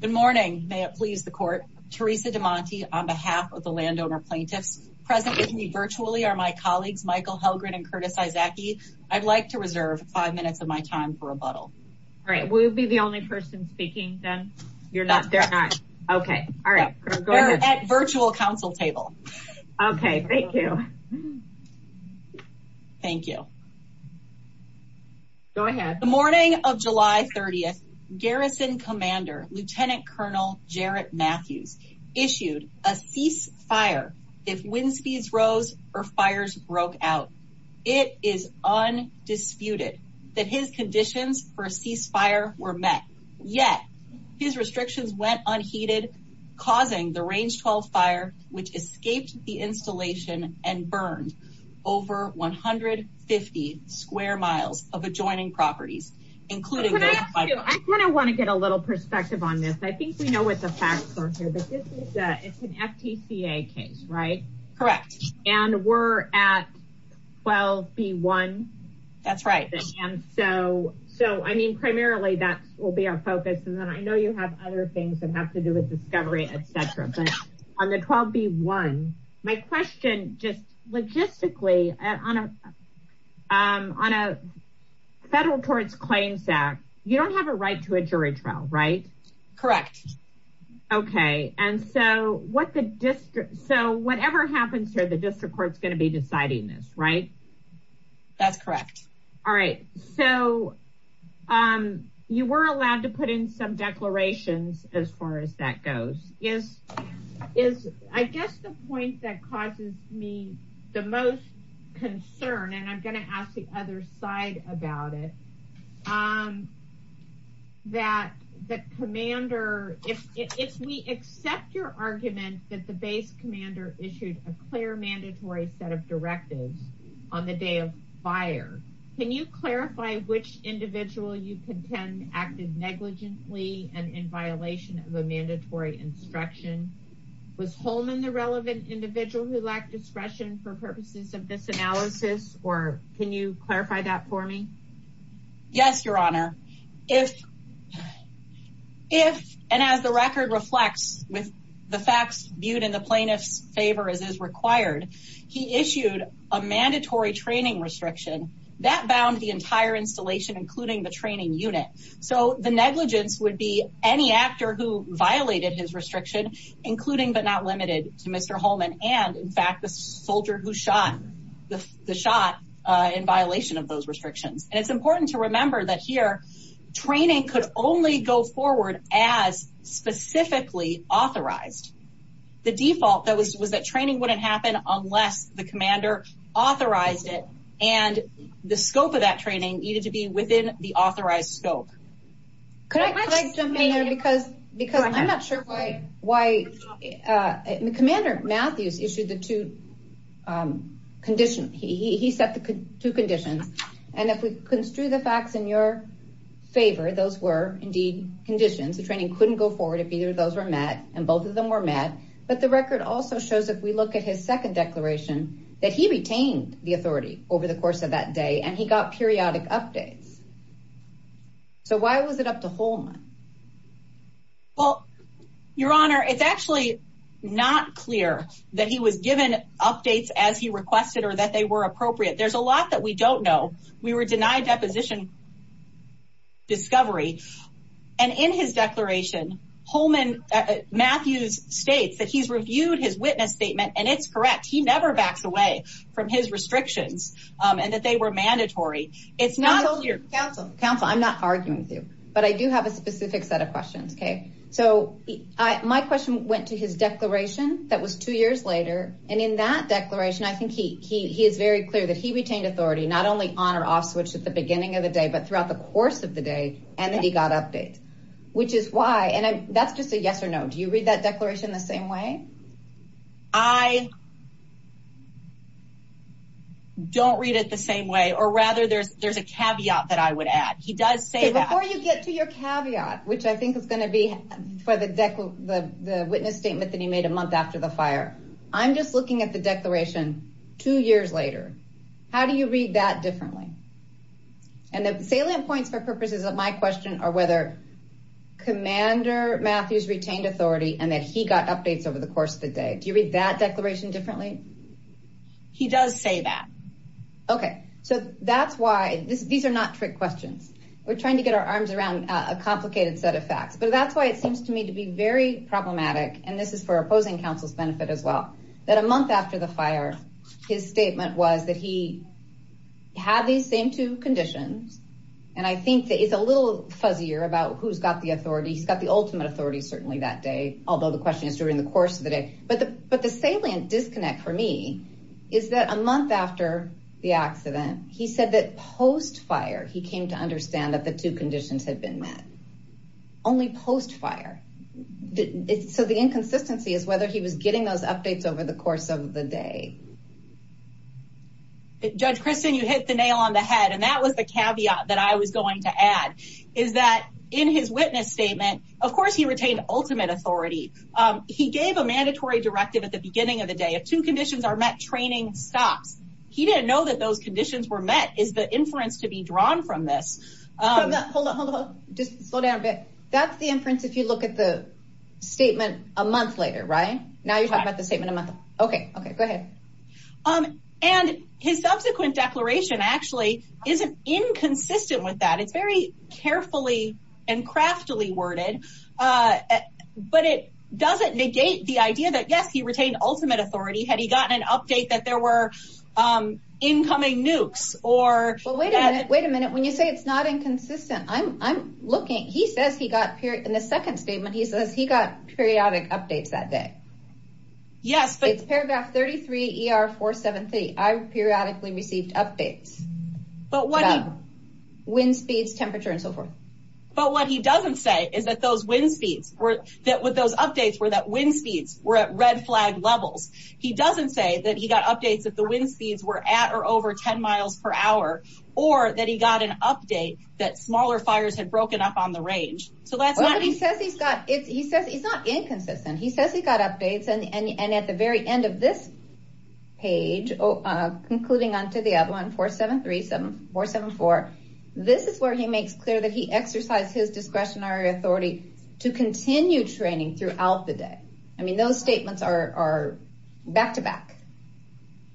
Good morning. May it please the court. Teresa DeMonte on behalf of the landowner plaintiffs present with me virtually are my colleagues Michael Hellgren and Curtis Izaki. I'd like to reserve five minutes of my time for rebuttal. All right, we'll be the only person speaking then? You're not? They're not. Okay, all right. We're at virtual council table. Okay, thank you. Thank you. Go ahead. The morning of July 30th, Garrison Commander Lieutenant Colonel Jarrett Matthews issued a ceasefire if wind speeds rose or fires broke out. It is undisputed that his conditions for a ceasefire were met, yet his restrictions went unheeded causing the Range 12 fire which escaped the installation and square miles of adjoining properties, including I kind of want to get a little perspective on this. I think we know what the facts are here, but it's an FTCA case, right? Correct. And we're at 12 B one. That's right. And so so I mean, primarily, that will be our focus. And then I know you have other things that have to do with discovery, etc. On the 12 B one, my question just logistically on a on a federal courts claims that you don't have a right to a jury trial, right? Correct. Okay. And so what the district so whatever happens here, the district court is going to be deciding this, right? That's correct. All right. So, um, you were allowed to is, I guess the point that causes me the most concern and I'm going to ask the other side about it, um, that the commander, if we accept your argument that the base commander issued a clear mandatory set of directives on the day of fire, can you clarify which individual you contend acted negligently and in violation of a mandatory instruction was home in the relevant individual who lacked discretion for purposes of this analysis? Or can you clarify that for me? Yes, Your Honor. If if and as the record reflects with the facts viewed in the plaintiff's favor, as is required, he issued a mandatory training restriction that bound the be any actor who violated his restriction, including but not limited to Mr Holman. And in fact, the soldier who shot the shot in violation of those restrictions. And it's important to remember that here training could only go forward as specifically authorized. The default that was was that training wouldn't happen unless the commander authorized it. And the scope of that because because I'm not sure why why, uh, Commander Matthews issued the two, um, condition. He set the two conditions. And if we construe the facts in your favor, those were indeed conditions. The training couldn't go forward if either of those were met, and both of them were met. But the record also shows if we look at his second declaration that he retained the authority over the course of that day, and he got periodic updates. So why was it up to home? Well, Your Honor, it's actually not clear that he was given updates as he requested or that they were appropriate. There's a lot that we don't know. We were denied deposition discovery. And in his declaration, Holman Matthews states that he's reviewed his witness statement, and it's correct. He never backs away from his mandatory. It's not your counsel. I'm not arguing with you, but I do have a specific set of questions. Okay, so my question went to his declaration. That was two years later. And in that declaration, I think he he is very clear that he retained authority not only on or off switch at the beginning of the day, but throughout the course of the day, and then he got update, which is why. And that's just a yes or no. Do you read that declaration the same way? I don't read it the same way, or rather, there's there's a caveat that I would add. He does say that before you get to your caveat, which I think is going to be for the deck, the witness statement that he made a month after the fire. I'm just looking at the declaration two years later. How do you read that differently? And the salient points for purposes of my question or whether Commander Matthews retained authority and that he got updates over the course of the day. Do you read that declaration the same way? Indifferently, he does say that. Okay, so that's why these are not trick questions. We're trying to get our arms around a complicated set of facts, but that's why it seems to me to be very problematic. And this is for opposing counsel's benefit as well. That a month after the fire, his statement was that he had these same two conditions. And I think that it's a little fuzzier about who's got the authority. He's got the ultimate authority. Certainly that day, although the question is during the course of the day, but but the salient disconnect for me is that a month after the accident, he said that post fire, he came to understand that the two conditions had been met only post fire. So the inconsistency is whether he was getting those updates over the course of the day. Judge Kristen, you hit the nail on the head, and that was the caveat that I was going to add is that in his witness statement, of course he retained ultimate authority. He gave a mandatory directive at the beginning of the day. If two conditions are met, training stops. He didn't know that those conditions were met is the inference to be drawn from this. Hold on, hold on. Just slow down a bit. That's the inference. If you look at the statement a month later, right now, you're talking about the statement a month. OK, OK, go ahead. And his subsequent declaration actually isn't inconsistent with that. It's very carefully and craftily worded, but it doesn't negate the idea that, yes, he had ultimate authority. Had he gotten an update that there were incoming nukes or... Well, wait a minute, wait a minute. When you say it's not inconsistent, I'm looking, he says he got, in the second statement, he says he got periodic updates that day. Yes, but... It's paragraph 33 ER 473. I've periodically received updates about wind speeds, temperature and so forth. He doesn't say that he got updates that the wind speeds were at or over 10 miles per hour, or that he got an update that smaller fires had broken up on the range. So that's not... Well, but he says he's got, he says it's not inconsistent. He says he got updates and at the very end of this page, concluding on to the other one, 473, 474, this is where he makes clear that he exercised his discretionary authority to continue training throughout the day. I mean, those back-to-back.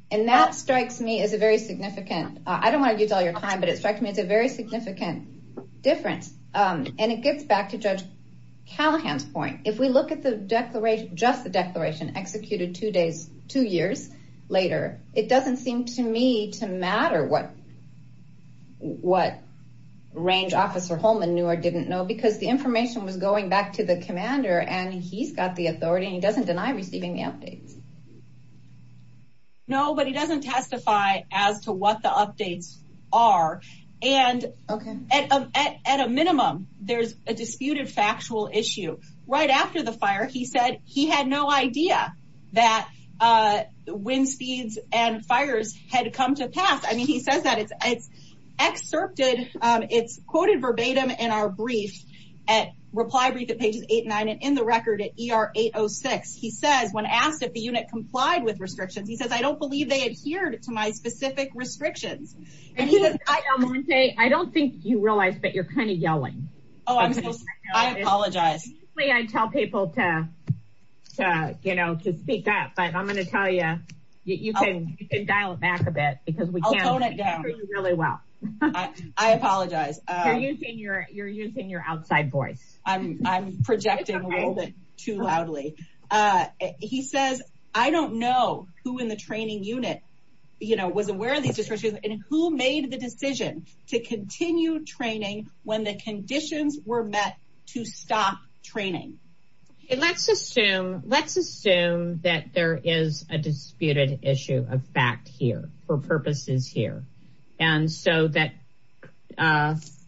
And that strikes me as a very significant, I don't want to use all your time, but it struck me as a very significant difference. And it gets back to Judge Callahan's point. If we look at the declaration, just the declaration executed two days, two years later, it doesn't seem to me to matter what range officer Holman knew or didn't know because the information was going back to the commander and he's got the authority and he doesn't deny receiving the updates. No, but he doesn't testify as to what the updates are. And at a minimum, there's a disputed factual issue. Right after the fire, he said he had no idea that wind speeds and fires had come to pass. I mean, he says that it's excerpted, it's quoted verbatim in our brief, at reply brief at pages 8 and 9 and in the record at ER 806. He says, when asked if the unit complied with restrictions, he says, I don't believe they adhered to my specific restrictions. I don't think you realize, but you're kind of yelling. Oh, I'm sorry. I apologize. Usually I tell people to, you know, to speak up, but I'm going to tell you, you can dial it back a bit because we can't hear you really well. I apologize. You're using your outside voice. I'm projecting a little bit too loudly. He says, I don't know who in the training unit, you know, was aware of these restrictions and who made the decision to continue training when the conditions were met to stop training. Let's assume, let's assume that there is a disputed issue of fact here for I'm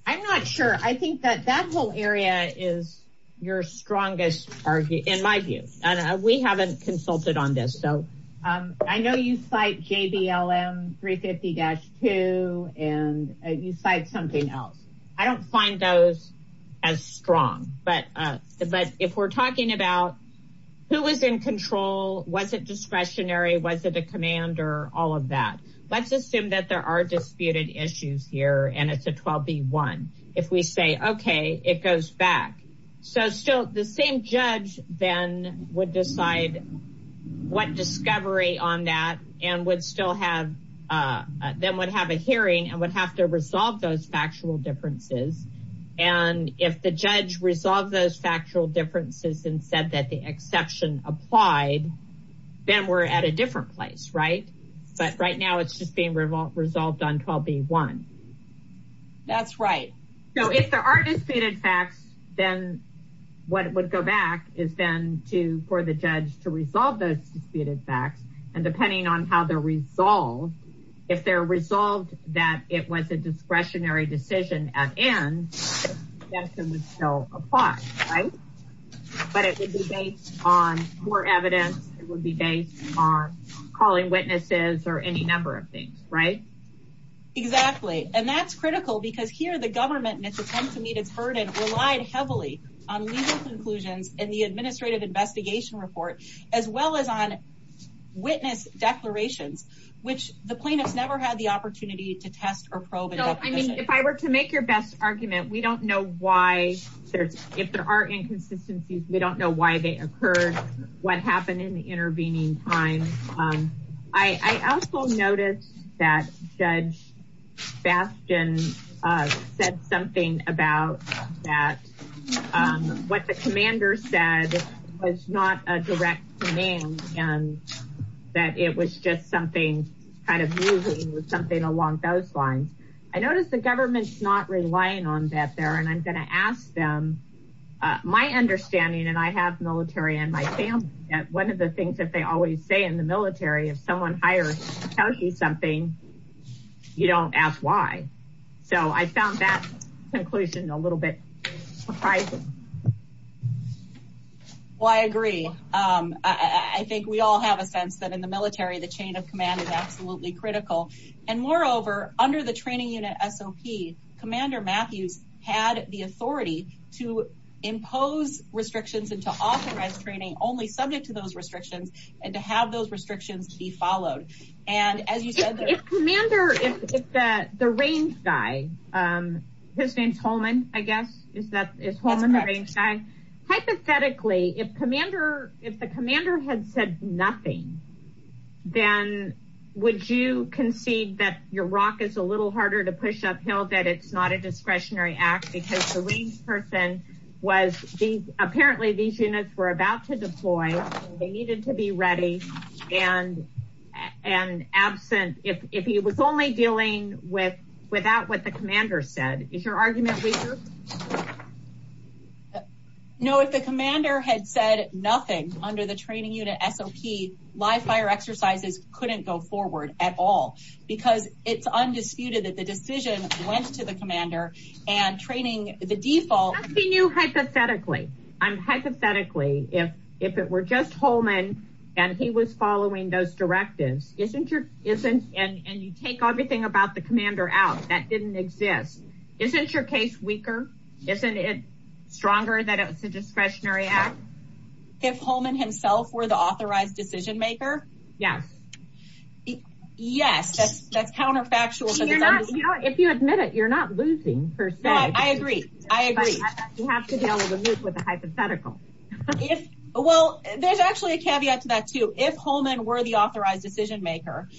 not sure. I think that that whole area is your strongest, in my view, and we haven't consulted on this. So I know you cite JBLM 350-2 and you cite something else. I don't find those as strong, but if we're talking about who was in control, was it discretionary? Was it a command or all of that? Let's assume that there are disputed issues here and it's a 12B1. If we say, okay, it goes back. So still the same judge then would decide what discovery on that and would still have, then would have a hearing and would have to resolve those factual differences. And if the judge resolved those factual differences and said that the exception applied, then we're at a different place, right? But right now it's just being resolved on 12B1. That's right. So if there are disputed facts, then what would go back is then to, for the judge to resolve those disputed facts. And depending on how they're resolved, if they're resolved that it was a discretionary decision at end, the exception would still apply, right? But it would be based on more evidence. It would be based on calling witnesses or any number of things, right? Exactly. And that's critical because here the government and its attempt to meet its burden relied heavily on legal conclusions and the administrative investigation report, as well as on witness declarations, which the plaintiffs never had the opportunity to test or probe. No, I mean, if I were to make your best argument, we don't know why there's, if there are inconsistencies, we don't know why they occur, what happened in intervening time, I also noticed that Judge Bastian said something about that. What the commander said was not a direct command and that it was just something kind of moving with something along those lines. I noticed the government's not relying on that there. And I'm going to ask them, my understanding, and I have military and my family, that one of the things that they always say in the military, if someone hires something, you don't ask why. So I found that conclusion a little bit surprising. Well, I agree. I think we all have a sense that in the military, the chain of command is absolutely critical. And moreover, under the training unit SOP, commander Matthews had the authority to impose restrictions and to authorize training only subject to those restrictions and to have those restrictions be followed. And as you said, If the range guy, his name's Holman, I guess, is Holman the range guy? Hypothetically, if the commander had said nothing, then would you concede that your ROC is a little harder to push uphill, that it's not a discretionary act because the range person was, apparently these units were about to deploy, they needed to be ready and absent, if he was only dealing without what the commander said. Is your argument weaker? No, if the commander had said nothing under the training unit SOP, live fire exercises couldn't go forward at all because it's undisputed that the decision went to the commander and training, the default... Nothing new, hypothetically. Hypothetically, if it were just Holman and he was following those directives, isn't your, and you take everything about the commander out that didn't exist. Isn't your case weaker? Isn't it stronger that it was a discretionary act? If Holman himself were the authorized decision maker? Yes. Yes. That's counterfactual. You know, if you admit it, you're not losing, per se. I agree. I agree. You have to deal with the hypothetical. Well, there's actually a caveat to that too. If Holman were the authorized decision maker,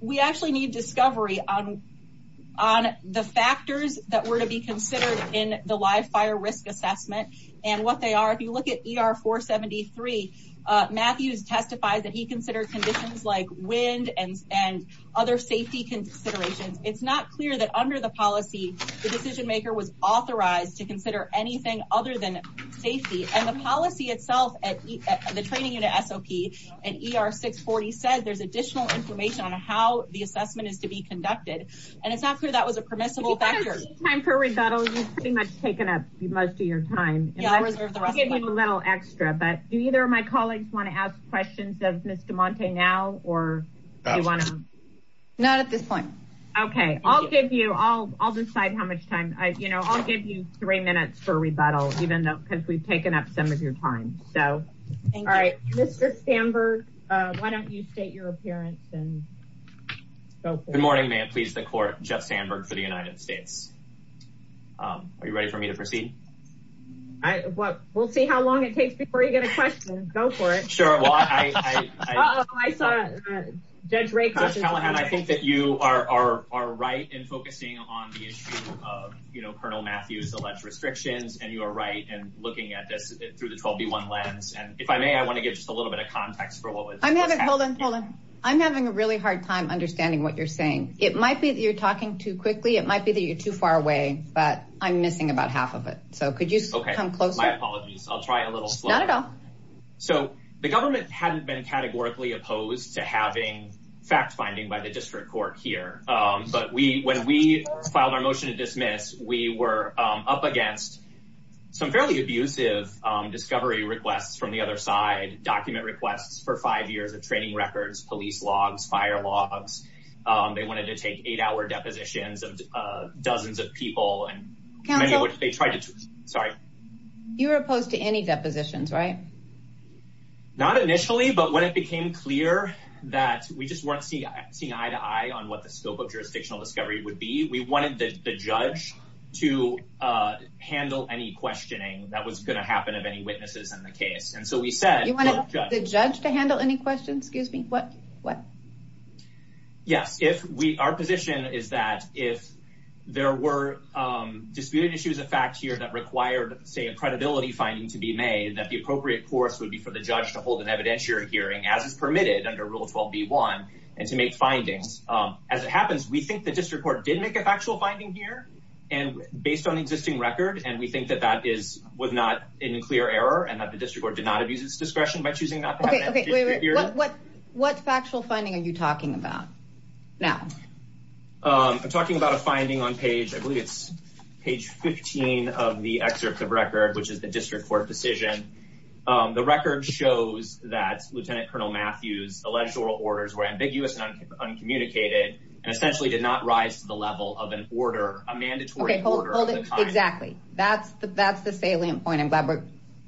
we actually need discovery on the factors that were to be considered in the live fire risk assessment and what they are, if you look at ER 473, Matthews testifies that he considered conditions like wind and, and other safety considerations. It's not clear that under the policy, the decision maker was authorized to consider anything other than safety. And the policy itself at the training unit SOP and ER 640 said there's additional information on how the assessment is to be conducted. And it's not clear that was a permissible factor. Time for rebuttal. You've pretty much taken up most of your time. Yeah. I'll reserve the rest of my time. You gave me a little extra, but do either of my colleagues want to ask questions of Ms. DeMonte now, or do you want to? Not at this point. Okay. I'll give you, I'll, I'll decide how much time I, you know, I'll give you three minutes for rebuttal, even though, cause we've taken up some of your time. So, all right, Mr. Sandberg, why don't you state your appearance and go for it. Good morning, ma'am. Please. The court, Jeff Sandberg for the United States. Um, are you ready for me to proceed? I, well, we'll see how long it takes before you get a question. Go for it. Sure. Well, I, I, I saw it. Judge Rake. I think that you are, are, are right in focusing on the issue of, you know, Colonel Matthew's alleged restrictions and you are right. And looking at this through the 12B1 lens. And if I may, I want to give just a little bit of context for what was. I'm having, hold on. Hold on. I'm having a really hard time understanding what you're saying. It might be that you're talking too quickly. It might be that you're too far away, but I'm missing about half of it. So could you come closer? My apologies. I'll try a little slower. So the government hadn't been categorically opposed to having fact finding by the district court here. Um, but we, when we filed our motion to dismiss, we were, um, up against some fairly abusive, um, discovery requests from the other side, document requests for five years of training records, police logs, fire logs, um, they wanted to take eight hour depositions of, uh, dozens of people and they tried to, sorry. You were opposed to any depositions, right? Not initially, but when it became clear that we just weren't seeing eye to eye on what the scope of jurisdictional discovery would be, we wanted the judge to, uh, handle any questioning that was going to happen of any witnesses in the case, and so we said, the judge to handle any questions, excuse me, what, what? Yes. If we, our position is that if there were, um, disputed issues of fact here that required, say, a credibility finding to be made, that the appropriate course would be for the judge to hold an evidentiary hearing as is permitted under rule 12B1 and to make findings. Um, as it happens, we think the district court did make a factual finding here and based on existing record. And we think that that is, was not in a clear error and that the district court did not abuse its discretion by choosing not to have an evidentiary hearing. What factual finding are you talking about now? Um, I'm talking about a finding on page, I believe it's page 15 of the excerpt of record, which is the district court decision. Um, the record shows that Lieutenant Colonel Matthews alleged oral orders were ambiguous and uncommunicated and essentially did not rise to the level of an order, a mandatory order. Exactly. That's the, that's the salient point. I'm glad we're,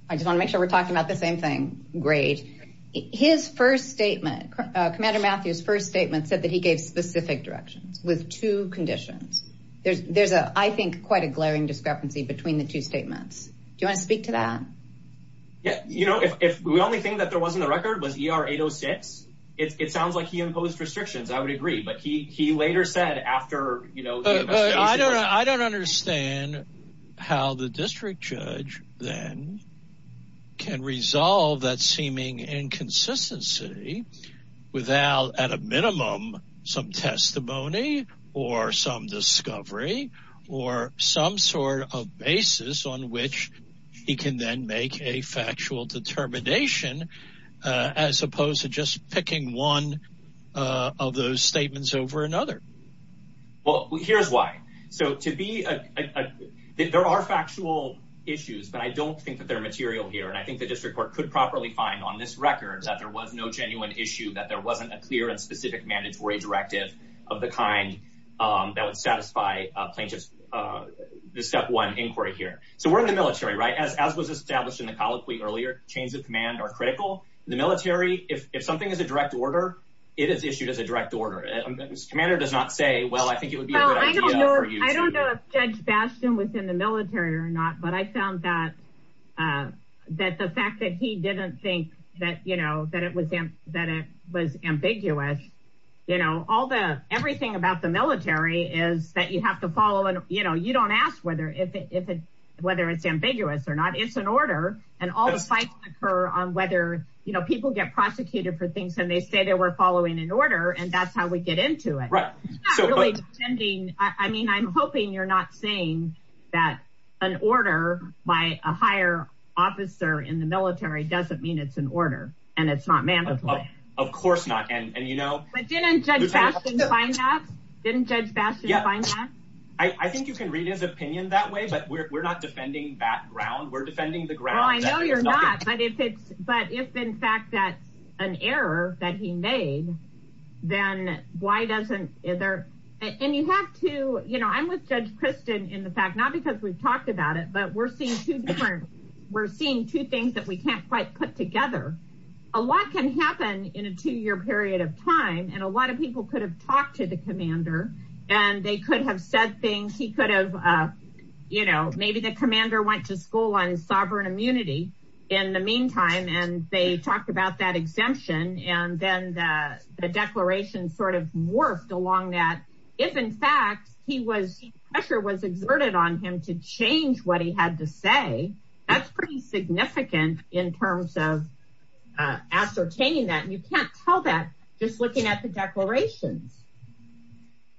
I just want to make sure we're talking about the same thing. Great. His first statement, uh, Commander Matthews first statement said that he gave specific directions with two conditions. There's, there's a, I think quite a glaring discrepancy between the two statements. Do you want to speak to that? Yeah. You know, if, if we only think that there wasn't a record was ER 806, it's, it sounds like he imposed restrictions. I would agree, but he, he later said after, you know, I don't, I don't understand how the district judge then can resolve that seeming inconsistency without at a minimum, some testimony or some discovery or some sort of basis on which he can then make a factual determination, uh, as opposed to just picking one, uh, of those statements over another, well, here's why. So to be, uh, there are factual issues, but I don't think that they're material here. And I think the district court could properly find on this record that there was no genuine issue, that there wasn't a clear and specific mandatory directive of the kind, um, that would satisfy plaintiff's, uh, the step one inquiry here. So we're in the military, right? As, as was established in the colloquy earlier, chains of command are critical. The military, if, if something is a direct order, it is issued as a direct order, commander does not say, well, I think it would be a good idea for you. I don't know if judge Bastian was in the military or not, but I found that, uh, that the fact that he didn't think that, you know, that it was him, that it was ambiguous, you know, all the, everything about the military is that you have to follow and, you know, you don't ask whether, if it, if it, whether it's ambiguous or not, it's an order and all the fights occur on whether, you know, people get prosecuted for things and they say that we're following an order and that's how we get into it. Right. So I mean, I'm hoping you're not saying that an order by a higher officer in the military doesn't mean it's an order and it's not mandatory. Of course not. And, and, you know, didn't judge Bastian find that? I think you can read his opinion that way, but we're, we're not defending that ground. We're defending the ground. I know you're not, but if it's, but if in fact that's an error that he made, then why doesn't either, and you have to, you know, I'm with judge Kristen in the fact, not because we've talked about it, but we're seeing two different. We're seeing two things that we can't quite put together. A lot can happen in a two year period of time. And a lot of people could have talked to the commander and they could have said things. He could have, you know, maybe the commander went to school on sovereign immunity in the meantime, and they talked about that exemption. And then the declaration sort of morphed along that. If in fact, he was pressure was exerted on him to change what he had to say. That's pretty significant in terms of ascertaining that you can't tell that just looking at the declarations.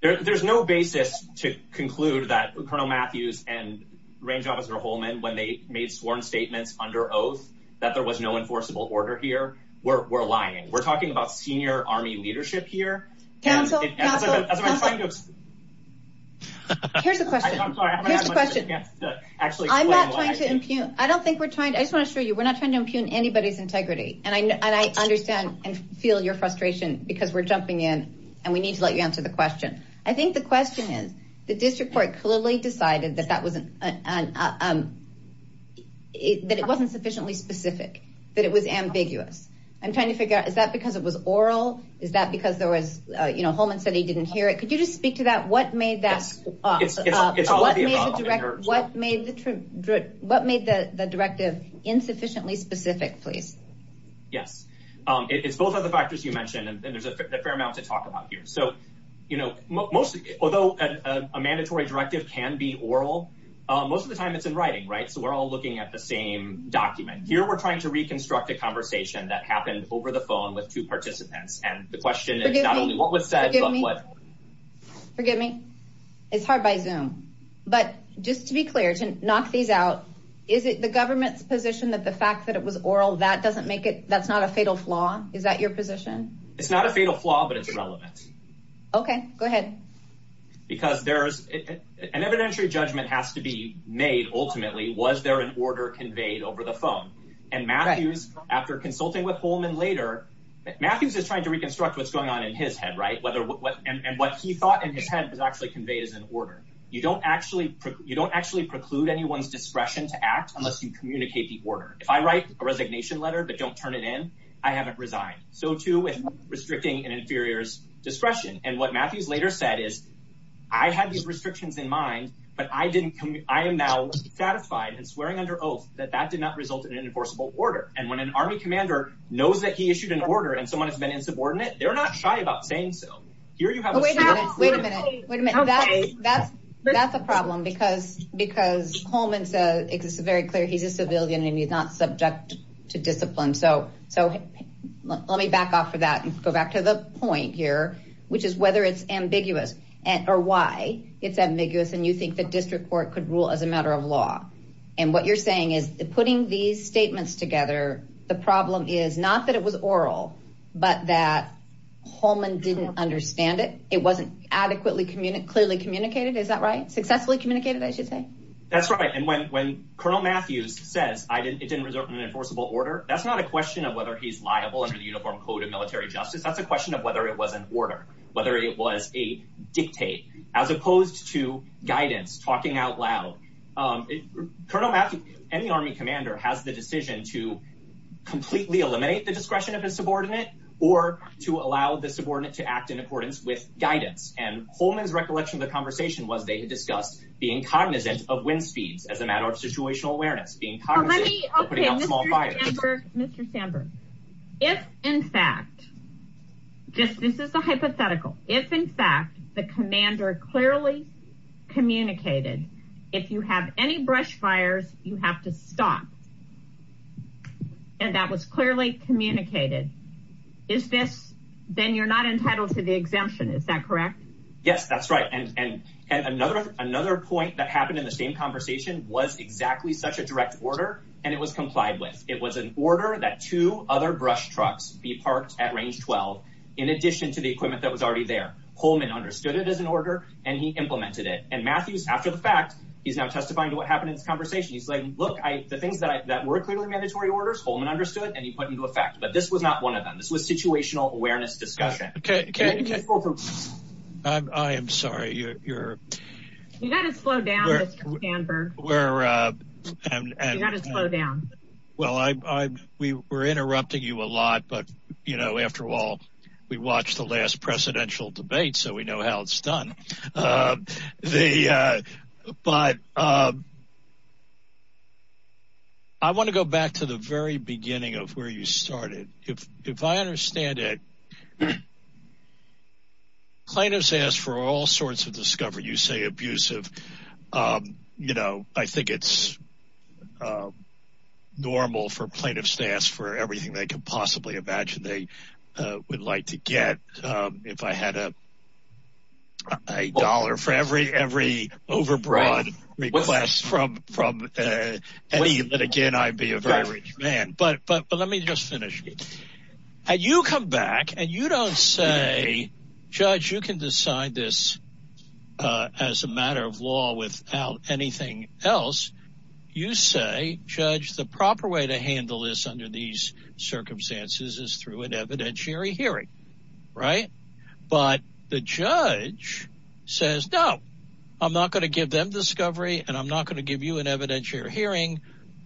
There there's no basis to conclude that Colonel Matthews and range officer Holman, when they made sworn statements under oath, that there was no enforceable order here where we're lying. We're talking about senior army leadership here. Council. Here's the question. I'm sorry. Here's the question. Actually, I'm not trying to impugn. I don't think we're trying to, I just want to show you, we're not trying to impugn anybody's integrity. And I, and I understand and feel your frustration because we're jumping in and we need to let you answer the question. I think the question is the district court clearly decided that that wasn't it, that it wasn't sufficiently specific, that it was ambiguous. I'm trying to figure out, is that because it was oral? Is that because there was a, you know, Holman said he didn't hear it. Could you just speak to that? What made that, what made the directive insufficiently specific, please? Yes. It's both of the factors you mentioned, and there's a fair amount to talk about here, so, you know, most, although a mandatory directive can be oral, most of the time it's in writing, right? So we're all looking at the same document here. We're trying to reconstruct a conversation that happened over the phone with two and the question is not only what was said, but what. Forgive me. It's hard by Zoom, but just to be clear, to knock these out, is it the government's position that the fact that it was oral, that doesn't make it, that's not a fatal flaw. Is that your position? It's not a fatal flaw, but it's relevant. Okay, go ahead. Because there's an evidentiary judgment has to be made. Ultimately, was there an order conveyed over the phone and Matthews after consulting with Holman later, Matthews is trying to reconstruct what's going on in his head, right? Whether what, and what he thought in his head was actually conveyed as an order. You don't actually, you don't actually preclude anyone's discretion to act unless you communicate the order. If I write a resignation letter, but don't turn it in, I haven't resigned. So too with restricting an inferior's discretion. And what Matthews later said is. I had these restrictions in mind, but I didn't come, I am now satisfied and swearing under oath that that did not result in an enforceable order. And when an army commander knows that he issued an order and someone has been insubordinate, they're not shy about saying so here, you have. Wait a minute. Wait a minute. That's, that's a problem because, because Holman says it's very clear. He's a civilian and he's not subject to discipline. So, so let me back off for that and go back to the point here, which is whether it's ambiguous or why it's ambiguous. And you think that district court could rule as a matter of law. And what you're saying is that putting these statements together, the problem is not that it was oral, but that Holman didn't understand it. It wasn't adequately communicated, clearly communicated. Is that right? Successfully communicated, I should say. That's right. And when, when Colonel Matthews says I didn't, it didn't result in an enforceable order, that's not a question of whether he's liable under the uniform code of military justice. That's a question of whether it was an order, whether it was a dictate as opposed to guidance, talking out loud. Um, Colonel Matthews, any army commander has the decision to completely eliminate the discretion of his subordinate or to allow the subordinate to act in accordance with guidance. And Holman's recollection of the conversation was they had discussed being cognizant of wind speeds as a matter of situational awareness, being cognizant of putting out small fires. Mr. Sandberg, if in fact, just, this is a hypothetical. If in fact, the commander clearly communicated, if you have any brush fires, you have to stop, and that was clearly communicated. Is this, then you're not entitled to the exemption. Is that correct? Yes, that's right. And, and, and another, another point that happened in the same conversation was exactly such a direct order and it was complied with. It was an order that two other brush trucks be parked at range 12, in addition to the equipment that was already there, Holman understood it as an order and he implemented it. And Matthews, after the fact, he's now testifying to what happened in this conversation. He's like, look, I, the things that I, that were clearly mandatory orders, Holman understood and he put into effect, but this was not one of them. This was situational awareness discussion. Okay. I'm, I am sorry. You're, you're, you gotta slow down, Mr. Sandberg. We're, uh, and, and, well, I'm, I'm, we were interrupting you a lot, but you watched the last presidential debate, so we know how it's done. Uh, the, uh, but, um, I want to go back to the very beginning of where you started. If, if I understand it, plaintiffs ask for all sorts of discovery, you say abusive, um, you know, I think it's, um, normal for plaintiffs to ask for everything they could possibly imagine. They, uh, would like to get, um, if I had a, a dollar for every, every overbroad requests from, from, uh, any, but again, I'd be a very rich man, but, but, but let me just finish. And you come back and you don't say, judge, you can decide this, uh, as a matter of law without anything else. You say judge, the proper way to handle this under these circumstances is through an evidentiary hearing, right? But the judge says, no, I'm not going to give them discovery and I'm not going to give you an evidentiary hearing.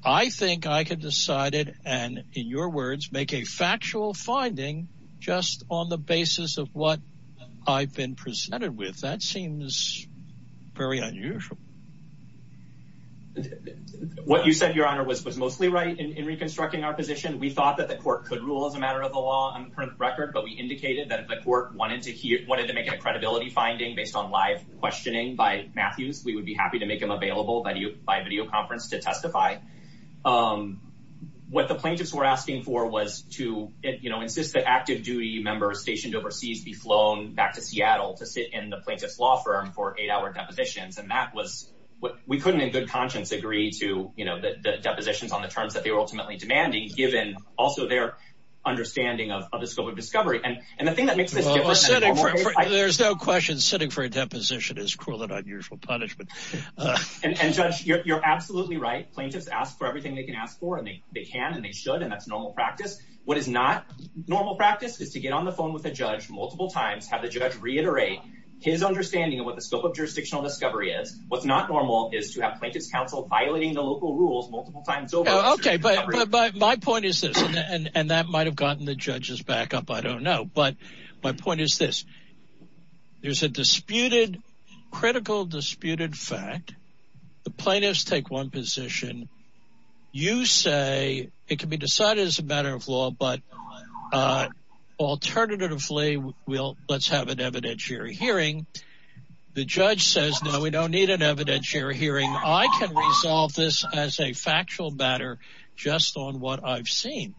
I think I could decide it. And in your words, make a factual finding just on the basis of what I've been presented with. That seems very unusual. What you said, your honor was, was mostly right in, in reconstructing our position. We thought that the court could rule as a matter of the law on the current record, but we indicated that if the court wanted to hear, wanted to make a credibility finding based on live questioning by Matthews, we would be happy to make them available by video conference to testify. Um, what the plaintiffs were asking for was to, you know, insist that active duty members stationed overseas be flown back to Seattle to sit in the plaintiff's law firm for eight hour depositions. And that was what we couldn't in good conscience agree to, you know, the depositions on the terms that they were ultimately demanding given also their. Understanding of the scope of discovery. And, and the thing that makes this different, there's no question sitting for a deposition is cruel and unusual punishment. And judge you're, you're absolutely right. Plaintiffs ask for everything they can ask for and they, they can, and they should, and that's normal practice. What is not normal practice is to get on the phone with the judge multiple times, have the judge reiterate his understanding of what the scope of jurisdictional discovery is. What's not normal is to have plaintiff's counsel violating the local rules multiple times over. Okay. But, but, but my point is this, and that might've gotten the judges back up. I don't know, but my point is this. There's a disputed critical disputed fact. The plaintiffs take one position. You say it can be decided as a matter of law, but, uh, alternatively we'll, let's have an evidentiary hearing. The judge says, no, we don't need an evidentiary hearing. I can resolve this as a factual matter, just on what I've seen.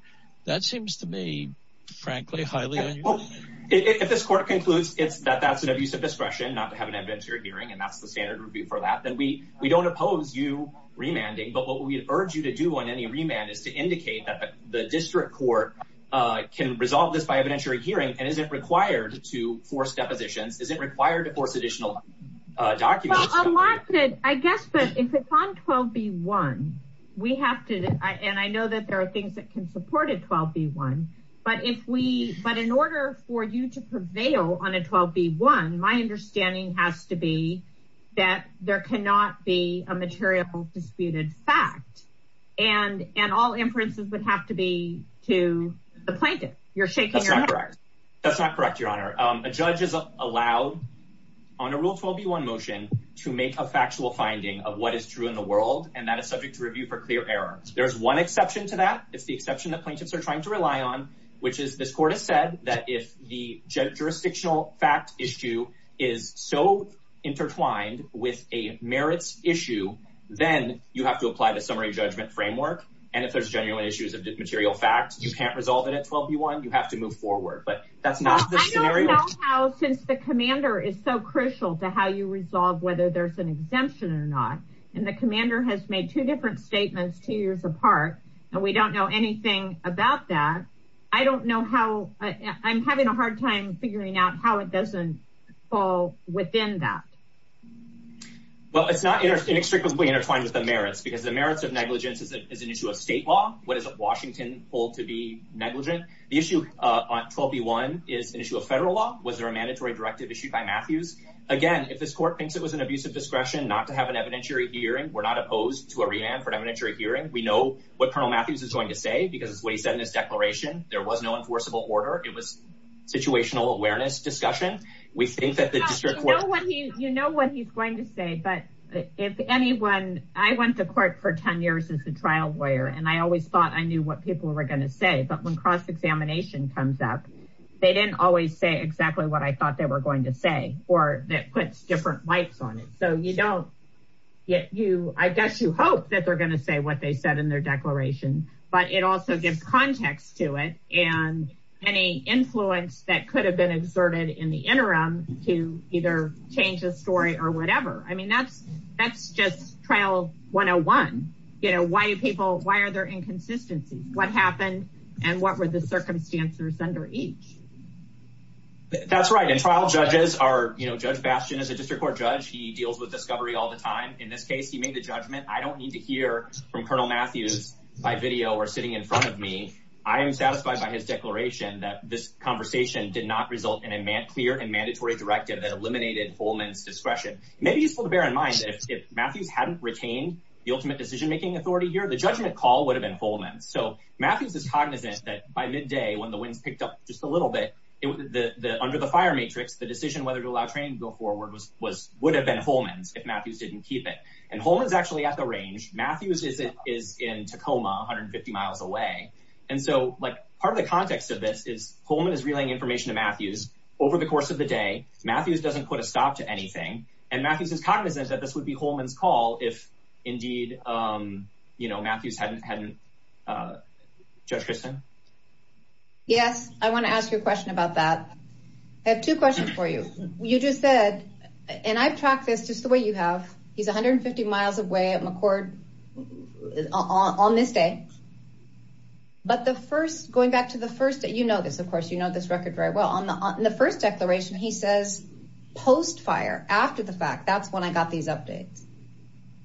That seems to me, frankly, highly unusual. If this court concludes it's that that's an abuse of discretion, not to have an evidentiary hearing, and that's the standard review for that, then we, we don't oppose you remanding, but what we urge you to do on any remand is to indicate that the district court, uh, can resolve this by evidentiary hearing. And is it required to force depositions? Is it required to force additional documents? I guess, but if it's on 12B1, we have to, and I know that there are things that can support a 12B1, but if we, but in order for you to prevail on a 12B1, my understanding has to be that there cannot be a material disputed fact and, and all inferences would have to be to the plaintiff you're shaking. That's not correct. Your honor. Um, a judge is allowed on a rule 12B1 motion to make a factual finding of what is true in the world. And that is subject to review for clear error. There's one exception to that. It's the exception that plaintiffs are trying to rely on, which is this court has said that if the jurisdictional fact issue is so intertwined with a merits issue, then you have to apply the summary judgment framework. And if there's genuine issues of material facts, you can't resolve it at 12B1. You have to move forward, but that's not the scenario. I don't know how, since the commander is so crucial to how you resolve whether there's an exemption or not, and the commander has made two different statements, two years apart, and we don't know anything about that. I don't know how, I'm having a hard time figuring out how it doesn't fall within that. Well, it's not inextricably intertwined with the merits because the merits of negligence is an issue of state law. What does Washington hold to be negligent? The issue on 12B1 is an issue of federal law. Was there a mandatory directive issued by Matthews? Again, if this court thinks it was an abuse of discretion not to have an evidentiary hearing, we're not opposed to a remand for an evidentiary hearing. We know what Colonel Matthews is going to say, because it's what he said in his declaration. There was no enforceable order. It was situational awareness discussion. We think that the district court- You know what he's going to say, but if anyone, I went to court for 10 years as a trial lawyer, and I always thought I knew what people were going to say, but when cross-examination comes up, they didn't always say exactly what I thought they were going to say, or that puts different lights on it. So you don't, I guess you hope that they're going to say what they said in their declaration, but it also gives context to it and any influence that could have been exerted in the interim to either change the story or whatever. I mean, that's just trial 101. You know, why do people, why are there inconsistencies? What happened and what were the circumstances under each? That's right. And trial judges are, you know, Judge Bastian is a district court judge. He deals with discovery all the time. In this case, he made the judgment. I don't need to hear from Colonel Matthews by video or sitting in front of me. I am satisfied by his declaration that this conversation did not result in a clear and mandatory directive that eliminated Holman's discretion. It may be useful to bear in mind that if Matthews hadn't retained the ultimate decision-making authority here, the judgment call would have been Holman's. So Matthews is cognizant that by midday, when the winds picked up just a little bit, it was the, the, under the fire matrix, the decision, whether to allow training to go forward was, was, would have been Holman's if Matthews didn't keep it and Holman's actually at the range. Matthews is, is in Tacoma, 150 miles away. And so like part of the context of this is Holman is relaying information to Matthews over the course of the day. Matthews doesn't put a stop to anything. And Matthews is cognizant that this would be Holman's call. If indeed, you know, Matthews hadn't, hadn't, Judge Christin? Yes. I want to ask you a question about that. I have two questions for you. You just said, and I've tracked this just the way you have. He's 150 miles away at McCord on this day. But the first, going back to the first day, you know, this, of course, you know, this record very well. On the, on the first declaration, he says, post-fire after the fact, that's when I got these updates.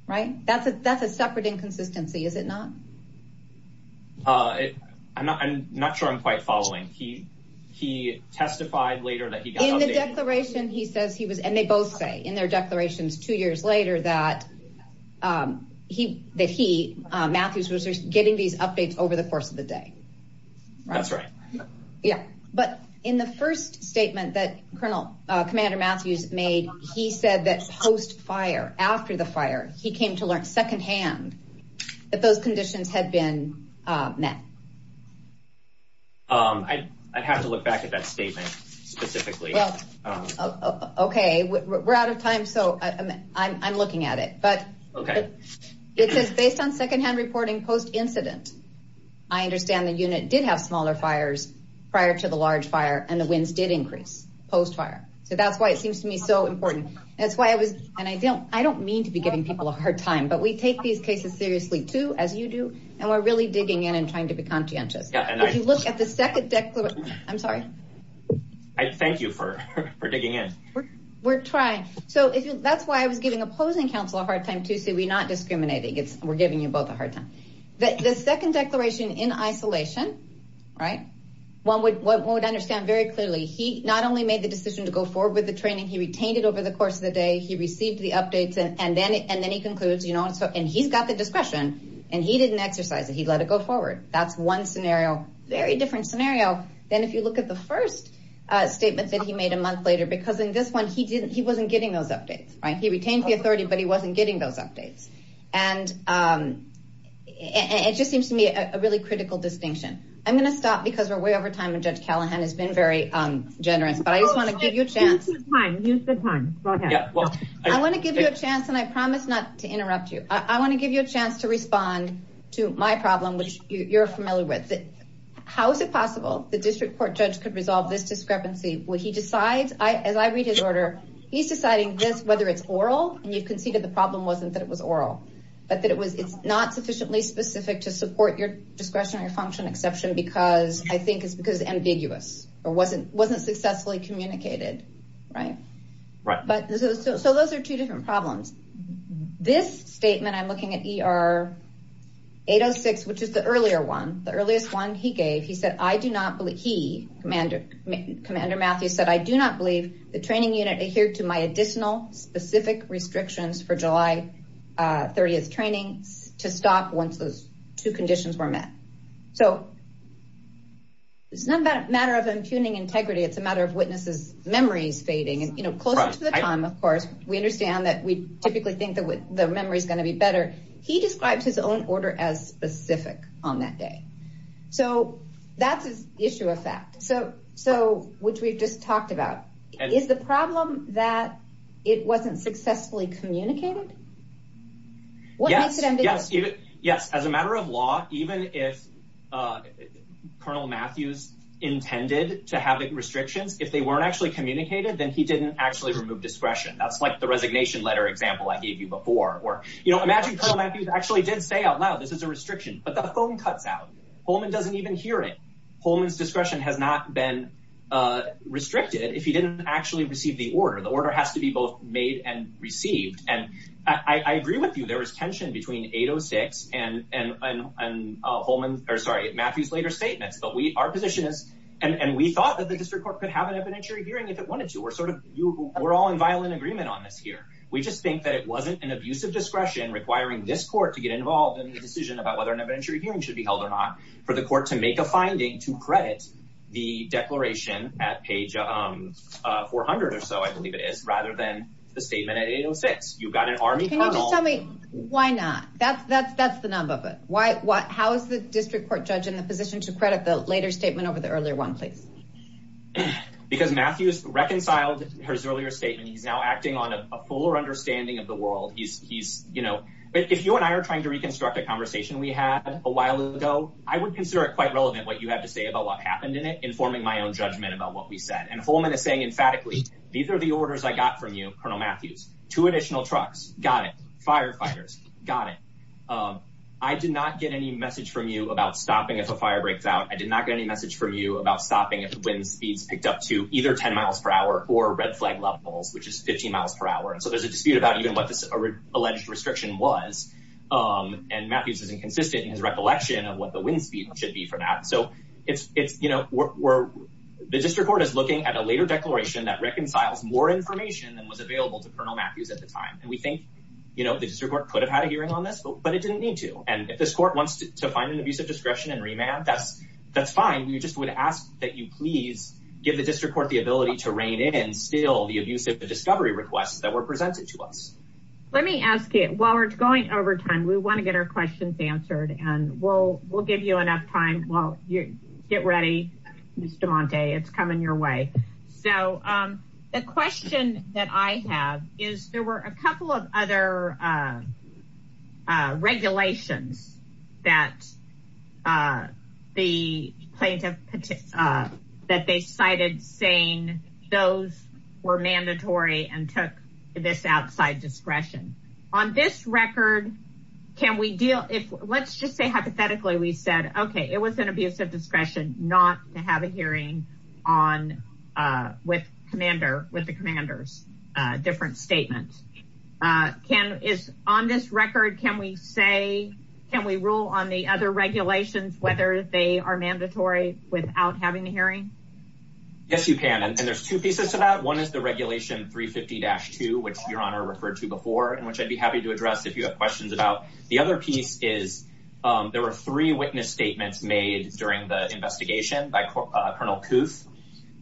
Right. That's a, that's a separate inconsistency. Is it not? Uh, I'm not, I'm not sure I'm quite following. He, he testified later that he got the declaration. He says he was, and they both say in their declarations two years later that, um, he, that he, uh, Matthews was getting these updates over the course of the day. That's right. Yeah. But in the first statement that Colonel, uh, Commander Matthews made, he said that post-fire, after the fire, he came to learn secondhand that those conditions had been, uh, met. Um, I, I'd have to look back at that statement specifically. Well, okay. We're out of time. So I'm, I'm, I'm looking at it, but it says based on secondhand reporting post-incident, I understand the unit did have smaller fires prior to the large fire and the winds did increase post-fire. So that's why it seems to me so important. That's why I was, and I don't, I don't mean to be giving people a hard time, but we take these cases seriously too, as you do, and we're really digging in and trying to be conscientious. If you look at the second declaration, I'm sorry. I thank you for, for digging in. We're trying. So that's why I was giving opposing counsel a hard time too, so we're not discriminating. It's, we're giving you both a hard time. The second declaration in isolation, right? One would, one would understand very clearly. He not only made the decision to go forward with the training, he retained it over the course of the day. He received the updates and then, and then he concludes, you know, and so, and he's got the discretion and he didn't exercise it. He let it go forward. That's one scenario, very different scenario. Then if you look at the first statement that he made a month later, because in this one, he didn't, he wasn't getting those updates, right? He retained the authority, but he wasn't getting those updates. And it just seems to me a really critical distinction. I'm going to stop because we're way over time. And judge Callahan has been very generous, but I just want to give you a chance. Yeah, well, I want to give you a chance and I promise not to interrupt you. I want to give you a chance to respond to my problem, which you're familiar with. How is it possible? The district court judge could resolve this discrepancy. When he decides, I, as I read his order, he's deciding this, whether it's oral and you've conceded the problem wasn't that it was oral, but that it was, it's not sufficiently specific to support your discretionary function exception, because I think it's because it's ambiguous or wasn't, wasn't successfully communicated. Right. Right. But so, so, so those are two different problems. This statement, I'm looking at ER 806, which is the earlier one, the earliest one he gave, he said, I do not believe he commander commander Matthew said, I do not believe the training unit adhered to my additional specific restrictions for July 30th training to stop once those two conditions were met. So it's not a matter of impugning integrity. It's a matter of witnesses, memories fading. And, you know, closer to the time, of course, we understand that we typically think that the memory is going to be better. He describes his own order as specific on that day. So that's his issue of fact. So, so which we've just talked about is the problem that it wasn't successfully communicated. What makes it ambiguous? Yes. Yes. As a matter of law, even if, uh, Colonel Matthews intended to have the restrictions, if they weren't actually communicated, then he didn't actually remove discretion. That's like the resignation letter example I gave you before, or, you know, imagine Colonel Matthews actually did say out loud, this is a restriction, but the phone cuts out, Holman doesn't even hear it, Holman's discretion has not been, uh, restricted if he didn't actually receive the order, the order has to be both made and received. And I agree with you. There was tension between 806 and, and, and, uh, Holman or sorry, Matthews later statements, but we, our position is, and we thought that the district court could have an evidentiary hearing if it wanted to. We're sort of, we're all in violent agreement on this here. We just think that it wasn't an abusive discretion requiring this court to get involved in the decision about whether an evidentiary hearing should be held or not for the court to make a finding to credit the declaration at page, um, uh, 400 or so, I believe it is rather than the statement at 806. You've got an army. Can you just tell me why not? That's that's, that's the number of it. Why, what, how is the district court judge in the position to credit the later statement over the earlier one, please? Because Matthews reconciled his earlier statement. He's now acting on a fuller understanding of the world. He's, he's, you know, if you and I are trying to reconstruct a conversation we had a while ago, I would consider it quite relevant. What you have to say about what happened in it, informing my own judgment about what we said. And Holman is saying emphatically, these are the orders I got from you. Colonel Matthews, two additional trucks. Got it. Firefighters got it. Um, I did not get any message from you about stopping. If a fire breaks out, I did not get any message from you about stopping. If the wind speeds picked up to either 10 miles per hour or red flag levels, which is 15 miles per hour. And so there's a dispute about even what this alleged restriction was. Um, and Matthews is inconsistent in his recollection of what the wind speed should be for that. So it's, it's, you know, we're the district court is looking at a later declaration that reconciles more information than was available to Colonel Matthews at the time. And we think, you know, the district court could have had a hearing on this, but it didn't need to. And if this court wants to find an abuse of discretion and remand, that's, that's fine, we just would ask that you please give the district court the ability to rein in still the abuse of the discovery requests that were presented to us. Let me ask you while we're going over time, we want to get our questions answered and we'll, we'll give you enough time. Well, you get ready, Mr. Monte, it's coming your way. So, um, the question that I have is there were a couple of other, uh, uh, regulations that, uh, the plaintiff, uh, that they cited saying those were mandatory and took this outside discretion on this record, can we deal if let's just say hypothetically, we said, okay, it was an abuse of discretion, not to have a hearing on, uh, with commander with the commanders, uh, different statements. Uh, can is on this record, can we say, can we rule on the other regulations, whether they are mandatory without having the hearing? Yes, you can. And there's two pieces to that. One is the regulation three 50 dash two, which your honor referred to before, and which I'd be happy to address. If you have questions about the other piece is, um, there were three witness statements made during the investigation by Colonel Kooth.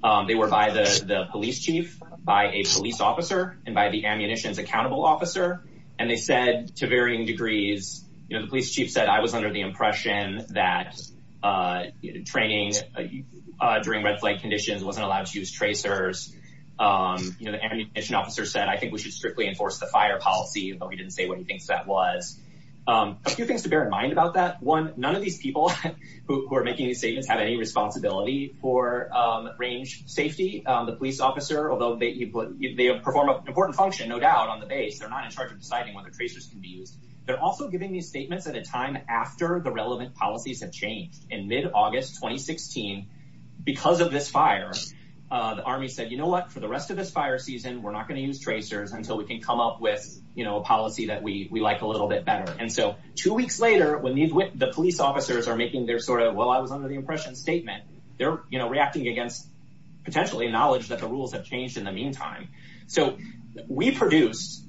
Um, they were by the police chief, by a police officer and by the ammunition's accountable officer. And they said to varying degrees, you know, the police chief said I was under the impression that, uh, training, uh, during red flag conditions wasn't allowed to use tracers, um, you know, the ammunition officer said, I think we should strictly enforce the fire policy, but we didn't say what he thinks that was, um, a few things to bear in mind about that one. None of these people who are making these statements have any responsibility for, um, range safety. Um, the police officer, although they, you put, they perform an important function, no doubt on the base. They're not in charge of deciding whether tracers can be used. They're also giving these statements at a time after the relevant policies have changed in mid August, 2016. Because of this fire, uh, the army said, you know what, for the rest of this fire season, we're not going to use tracers until we can come up with, you know, a policy that we, we like a little bit better. And so two weeks later, when these, when the police officers are making their sort of, well, I was under the impression statement, they're, you know, reacting against potentially knowledge that the rules have changed in the meantime. So we produced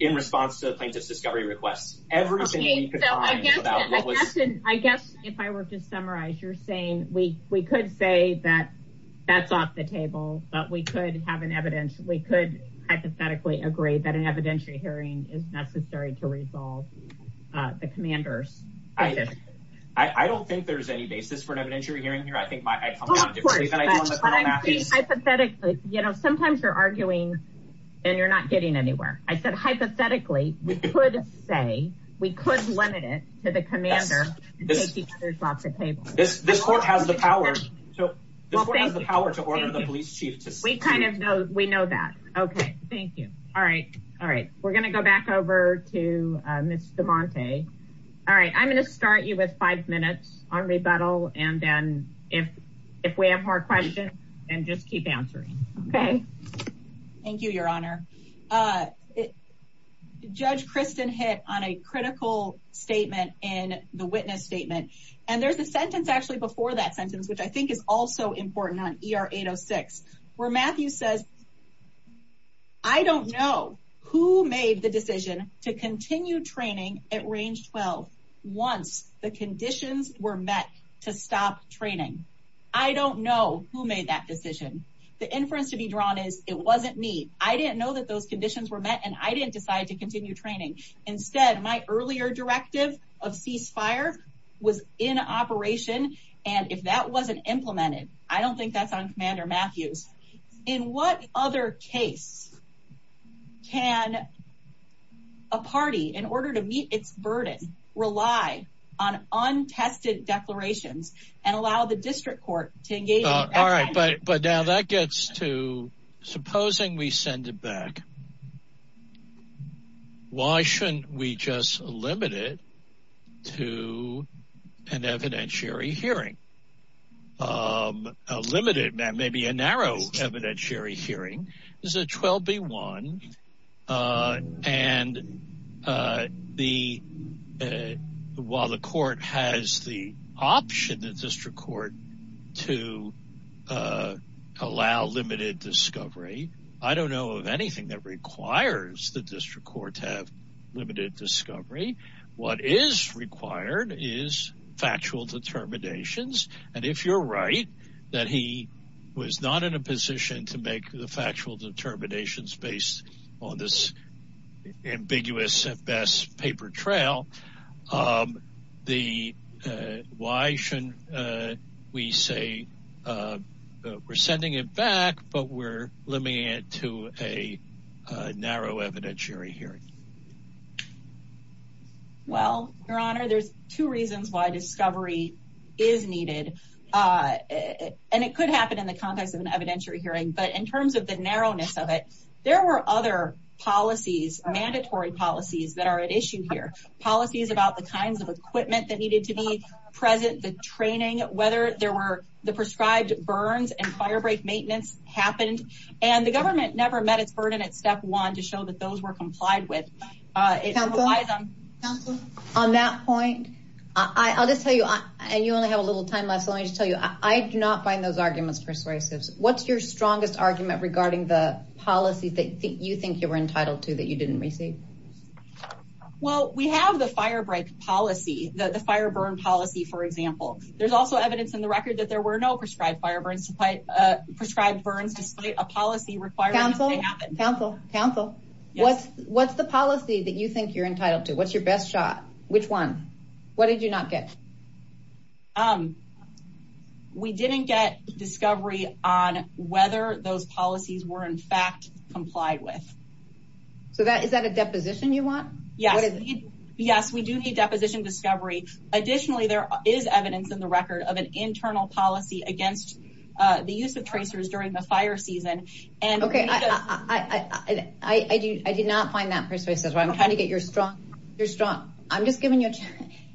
in response to the plaintiff's discovery requests, everything that you could find about what was, I guess, if I were to summarize, you're saying we, we could say that that's off the table, but we could have an evidence. We could hypothetically agree that an evidentiary hearing is necessary to resolve, uh, the commander's I, I don't think there's any basis for an evidentiary hearing here. I think my hypothetical, you know, sometimes you're arguing and you're not getting anywhere. I said, hypothetically, we could say we could limit it to the commander. This, this court has the power, the power to order the police chief to say kind of, no, we know that. Okay. Thank you. All right. All right. We're going to go back over to, uh, Ms. DeMonte. All right. I'm going to start you with five minutes on rebuttal. And then if, if we have more questions and just keep answering. Okay. Thank you, your honor. Uh, judge Kristen hit on a critical statement in the witness statement. And there's a sentence actually before that sentence, which I think is also important on ER 806. Where Matthew says, I don't know who made the decision to continue training at range 12 once the conditions were met to stop training. I don't know who made that decision. The inference to be drawn is it wasn't me. I didn't know that those conditions were met and I didn't decide to continue training. Instead, my earlier directive of ceasefire was in operation. And if that wasn't implemented, I don't think that's on commander Matthew. In what other case can a party in order to meet its burden, rely on untested declarations and allow the district court to engage. All right. But, but now that gets to supposing we send it back. Why shouldn't we just limit it to an evidentiary hearing? Um, a limited man, maybe a narrow evidentiary hearing is a 12 B one. Uh, and, uh, the, uh, while the court has the option that district court to, uh, allow limited discovery. I don't know of anything that requires the district court to have limited discovery. What is required is factual determinations. And if you're right, that he was not in a position to make the factual determinations based on this ambiguous at best paper trail, um, the, uh, why shouldn't, uh, we say, uh, uh, we're sending it back, but we're limiting it to a, uh, narrow evidentiary hearing. Well, your honor, there's two reasons why discovery is needed. Uh, and it could happen in the context of an evidentiary hearing, but in terms of the narrowness of it, there were other policies, mandatory policies that are at issue here. Policies about the kinds of equipment that needed to be present, the training, whether there were the prescribed burns and firebreak maintenance happened. And the government never met its burden at step one to show that those were complied with. Uh, on that point, I'll just tell you, and you only have a little time left. So let me just tell you, I do not find those arguments persuasives. What's your strongest argument regarding the policies that you think you were entitled to that you didn't receive? Well, we have the firebreak policy, the fire burn policy, for example. There's also evidence in the record that there were no prescribed fire burns despite, uh, prescribed burns, despite a policy requirement. Counsel, counsel, what's, what's the policy that you think you're entitled to? What's your best shot? Which one? What did you not get? Um, we didn't get discovery on whether those policies were in fact complied with. So that, is that a deposition you want? Yes. Yes, we do need deposition discovery. Additionally, there is evidence in the record of an internal policy against, uh, the use of tracers during the fire season. And okay. I, I, I, I, I, I, I do, I did not find that persuasive. I'm trying to get your strong. You're strong. I'm just giving you a chance.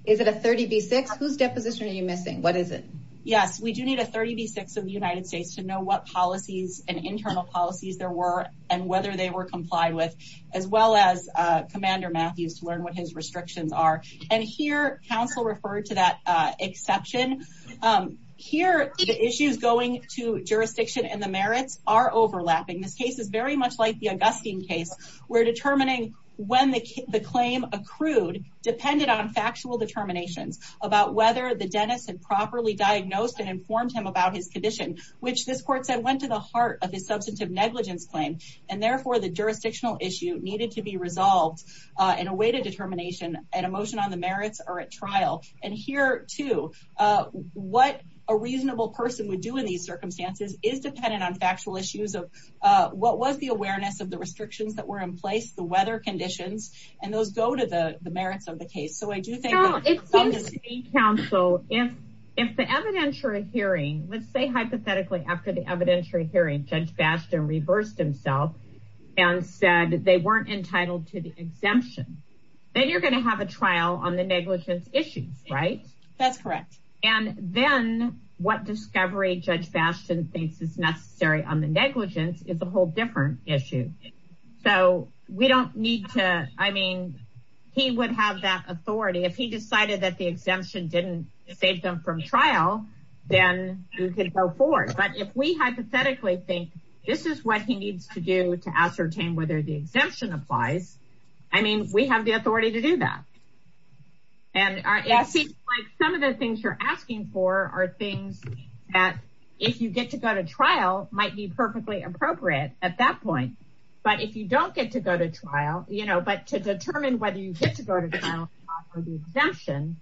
Is it a 30 B six? Whose deposition are you missing? What is it? Yes, we do need a 30 B six of the United States to know what policies and internal policies there were and whether they were complied with as well as, uh, commander Matthews to learn what his restrictions are. And here counsel referred to that, uh, exception. Um, here the issues going to jurisdiction and the merits are overlapping. This case is very much like the Augustine case. We're determining when the, the claim accrued depended on factual determinations about whether the dentist had properly diagnosed and informed him about his condition, which this court said went to the heart of his substantive negligence claim and therefore the jurisdictional issue needed to be resolved, uh, in a way to determination and emotion on the merits or at trial and here to, uh, what a reasonable person would do in these circumstances is dependent on factual issues of, uh, what was the awareness of the restrictions that were in place, the weather conditions, and those go to the merits of the case. So I do think counsel, if, if the evidentiary hearing, let's say hypothetically, after the evidentiary hearing judge Bastian reversed himself and said that they weren't entitled to the exemption, then you're going to have a trial on the negligence issues, right? That's correct. And then what discovery judge Bastian thinks is necessary on the negligence is a whole different issue. So we don't need to, I mean, he would have that authority. If he decided that the exemption didn't save them from trial, then you can go forward, but if we hypothetically think this is what he needs to do to ascertain whether the exemption applies, I mean, we have the authority to do that. And it seems like some of the things you're asking for are things that if you get to go to trial might be perfectly appropriate at that point, but if you don't get to go to trial, you know, but to determine whether you get to go to trial or the exemption,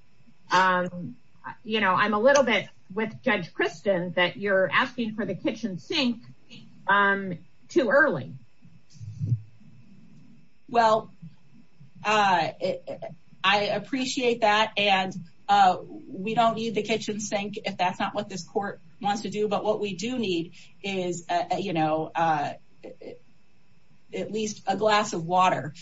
um, you know, I'm a little bit with judge Kristen that you're asking for the kitchen sink, um, too early. Um, well, uh, I appreciate that and, uh, we don't need the kitchen sink if that's not what this court wants to do. But what we do need is, uh, you know, uh, at least a glass of water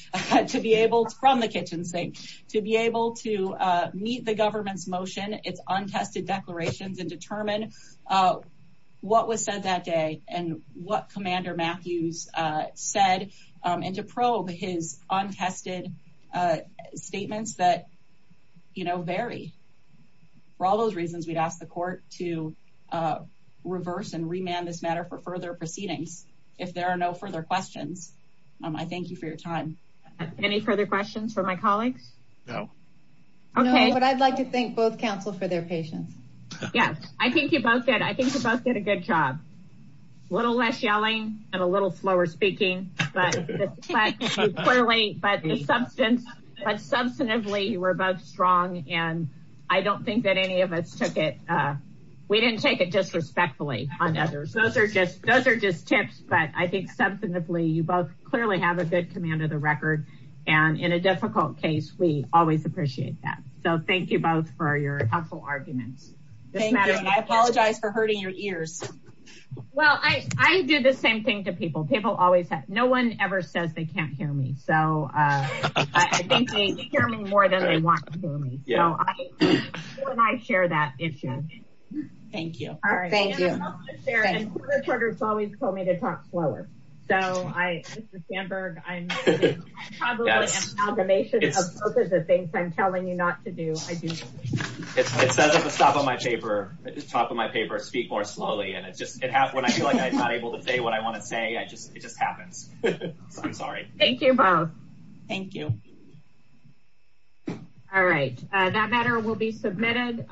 to be able to, from the kitchen sink, to be able to, uh, meet the government's motion, it's untested declarations and determine, uh, what was said that day and what commander Matthews, uh, said, um, and to probe his untested, uh, statements that, you know, vary. For all those reasons, we'd ask the court to, uh, reverse and remand this matter for further proceedings. If there are no further questions, um, I thank you for your time. Any further questions for my colleagues? No. Okay. But I'd like to thank both counsel for their patience. Yeah, I think you both did. I think you both did a good job. A little less yelling and a little slower speaking, but clearly, but the substance, but substantively you were both strong and I don't think that any of us took it, uh, we didn't take it disrespectfully on others. Those are just, those are just tips, but I think substantively you both clearly have a good command of the record. And in a difficult case, we always appreciate that. So thank you both for your helpful arguments. Thank you. I apologize for hurting your ears. Well, I, I do the same thing to people. People always have, no one ever says they can't hear me. So, uh, I think they hear me more than they want to hear me. So I share that issue. Thank you. All right. Thank you. I'd love to share. And the court has always told me to talk slower. So I, Mr. Sandberg, I'm probably amalgamation of both of the things I'm telling you not to do. I do. It says at the top of my paper, at the top of my paper, speak more slowly. And it's just, it happens when I feel like I'm not able to say what I want to say. I just, it just happens. So I'm sorry. Thank you both. Thank you. All right. Uh, that matter will be submitted.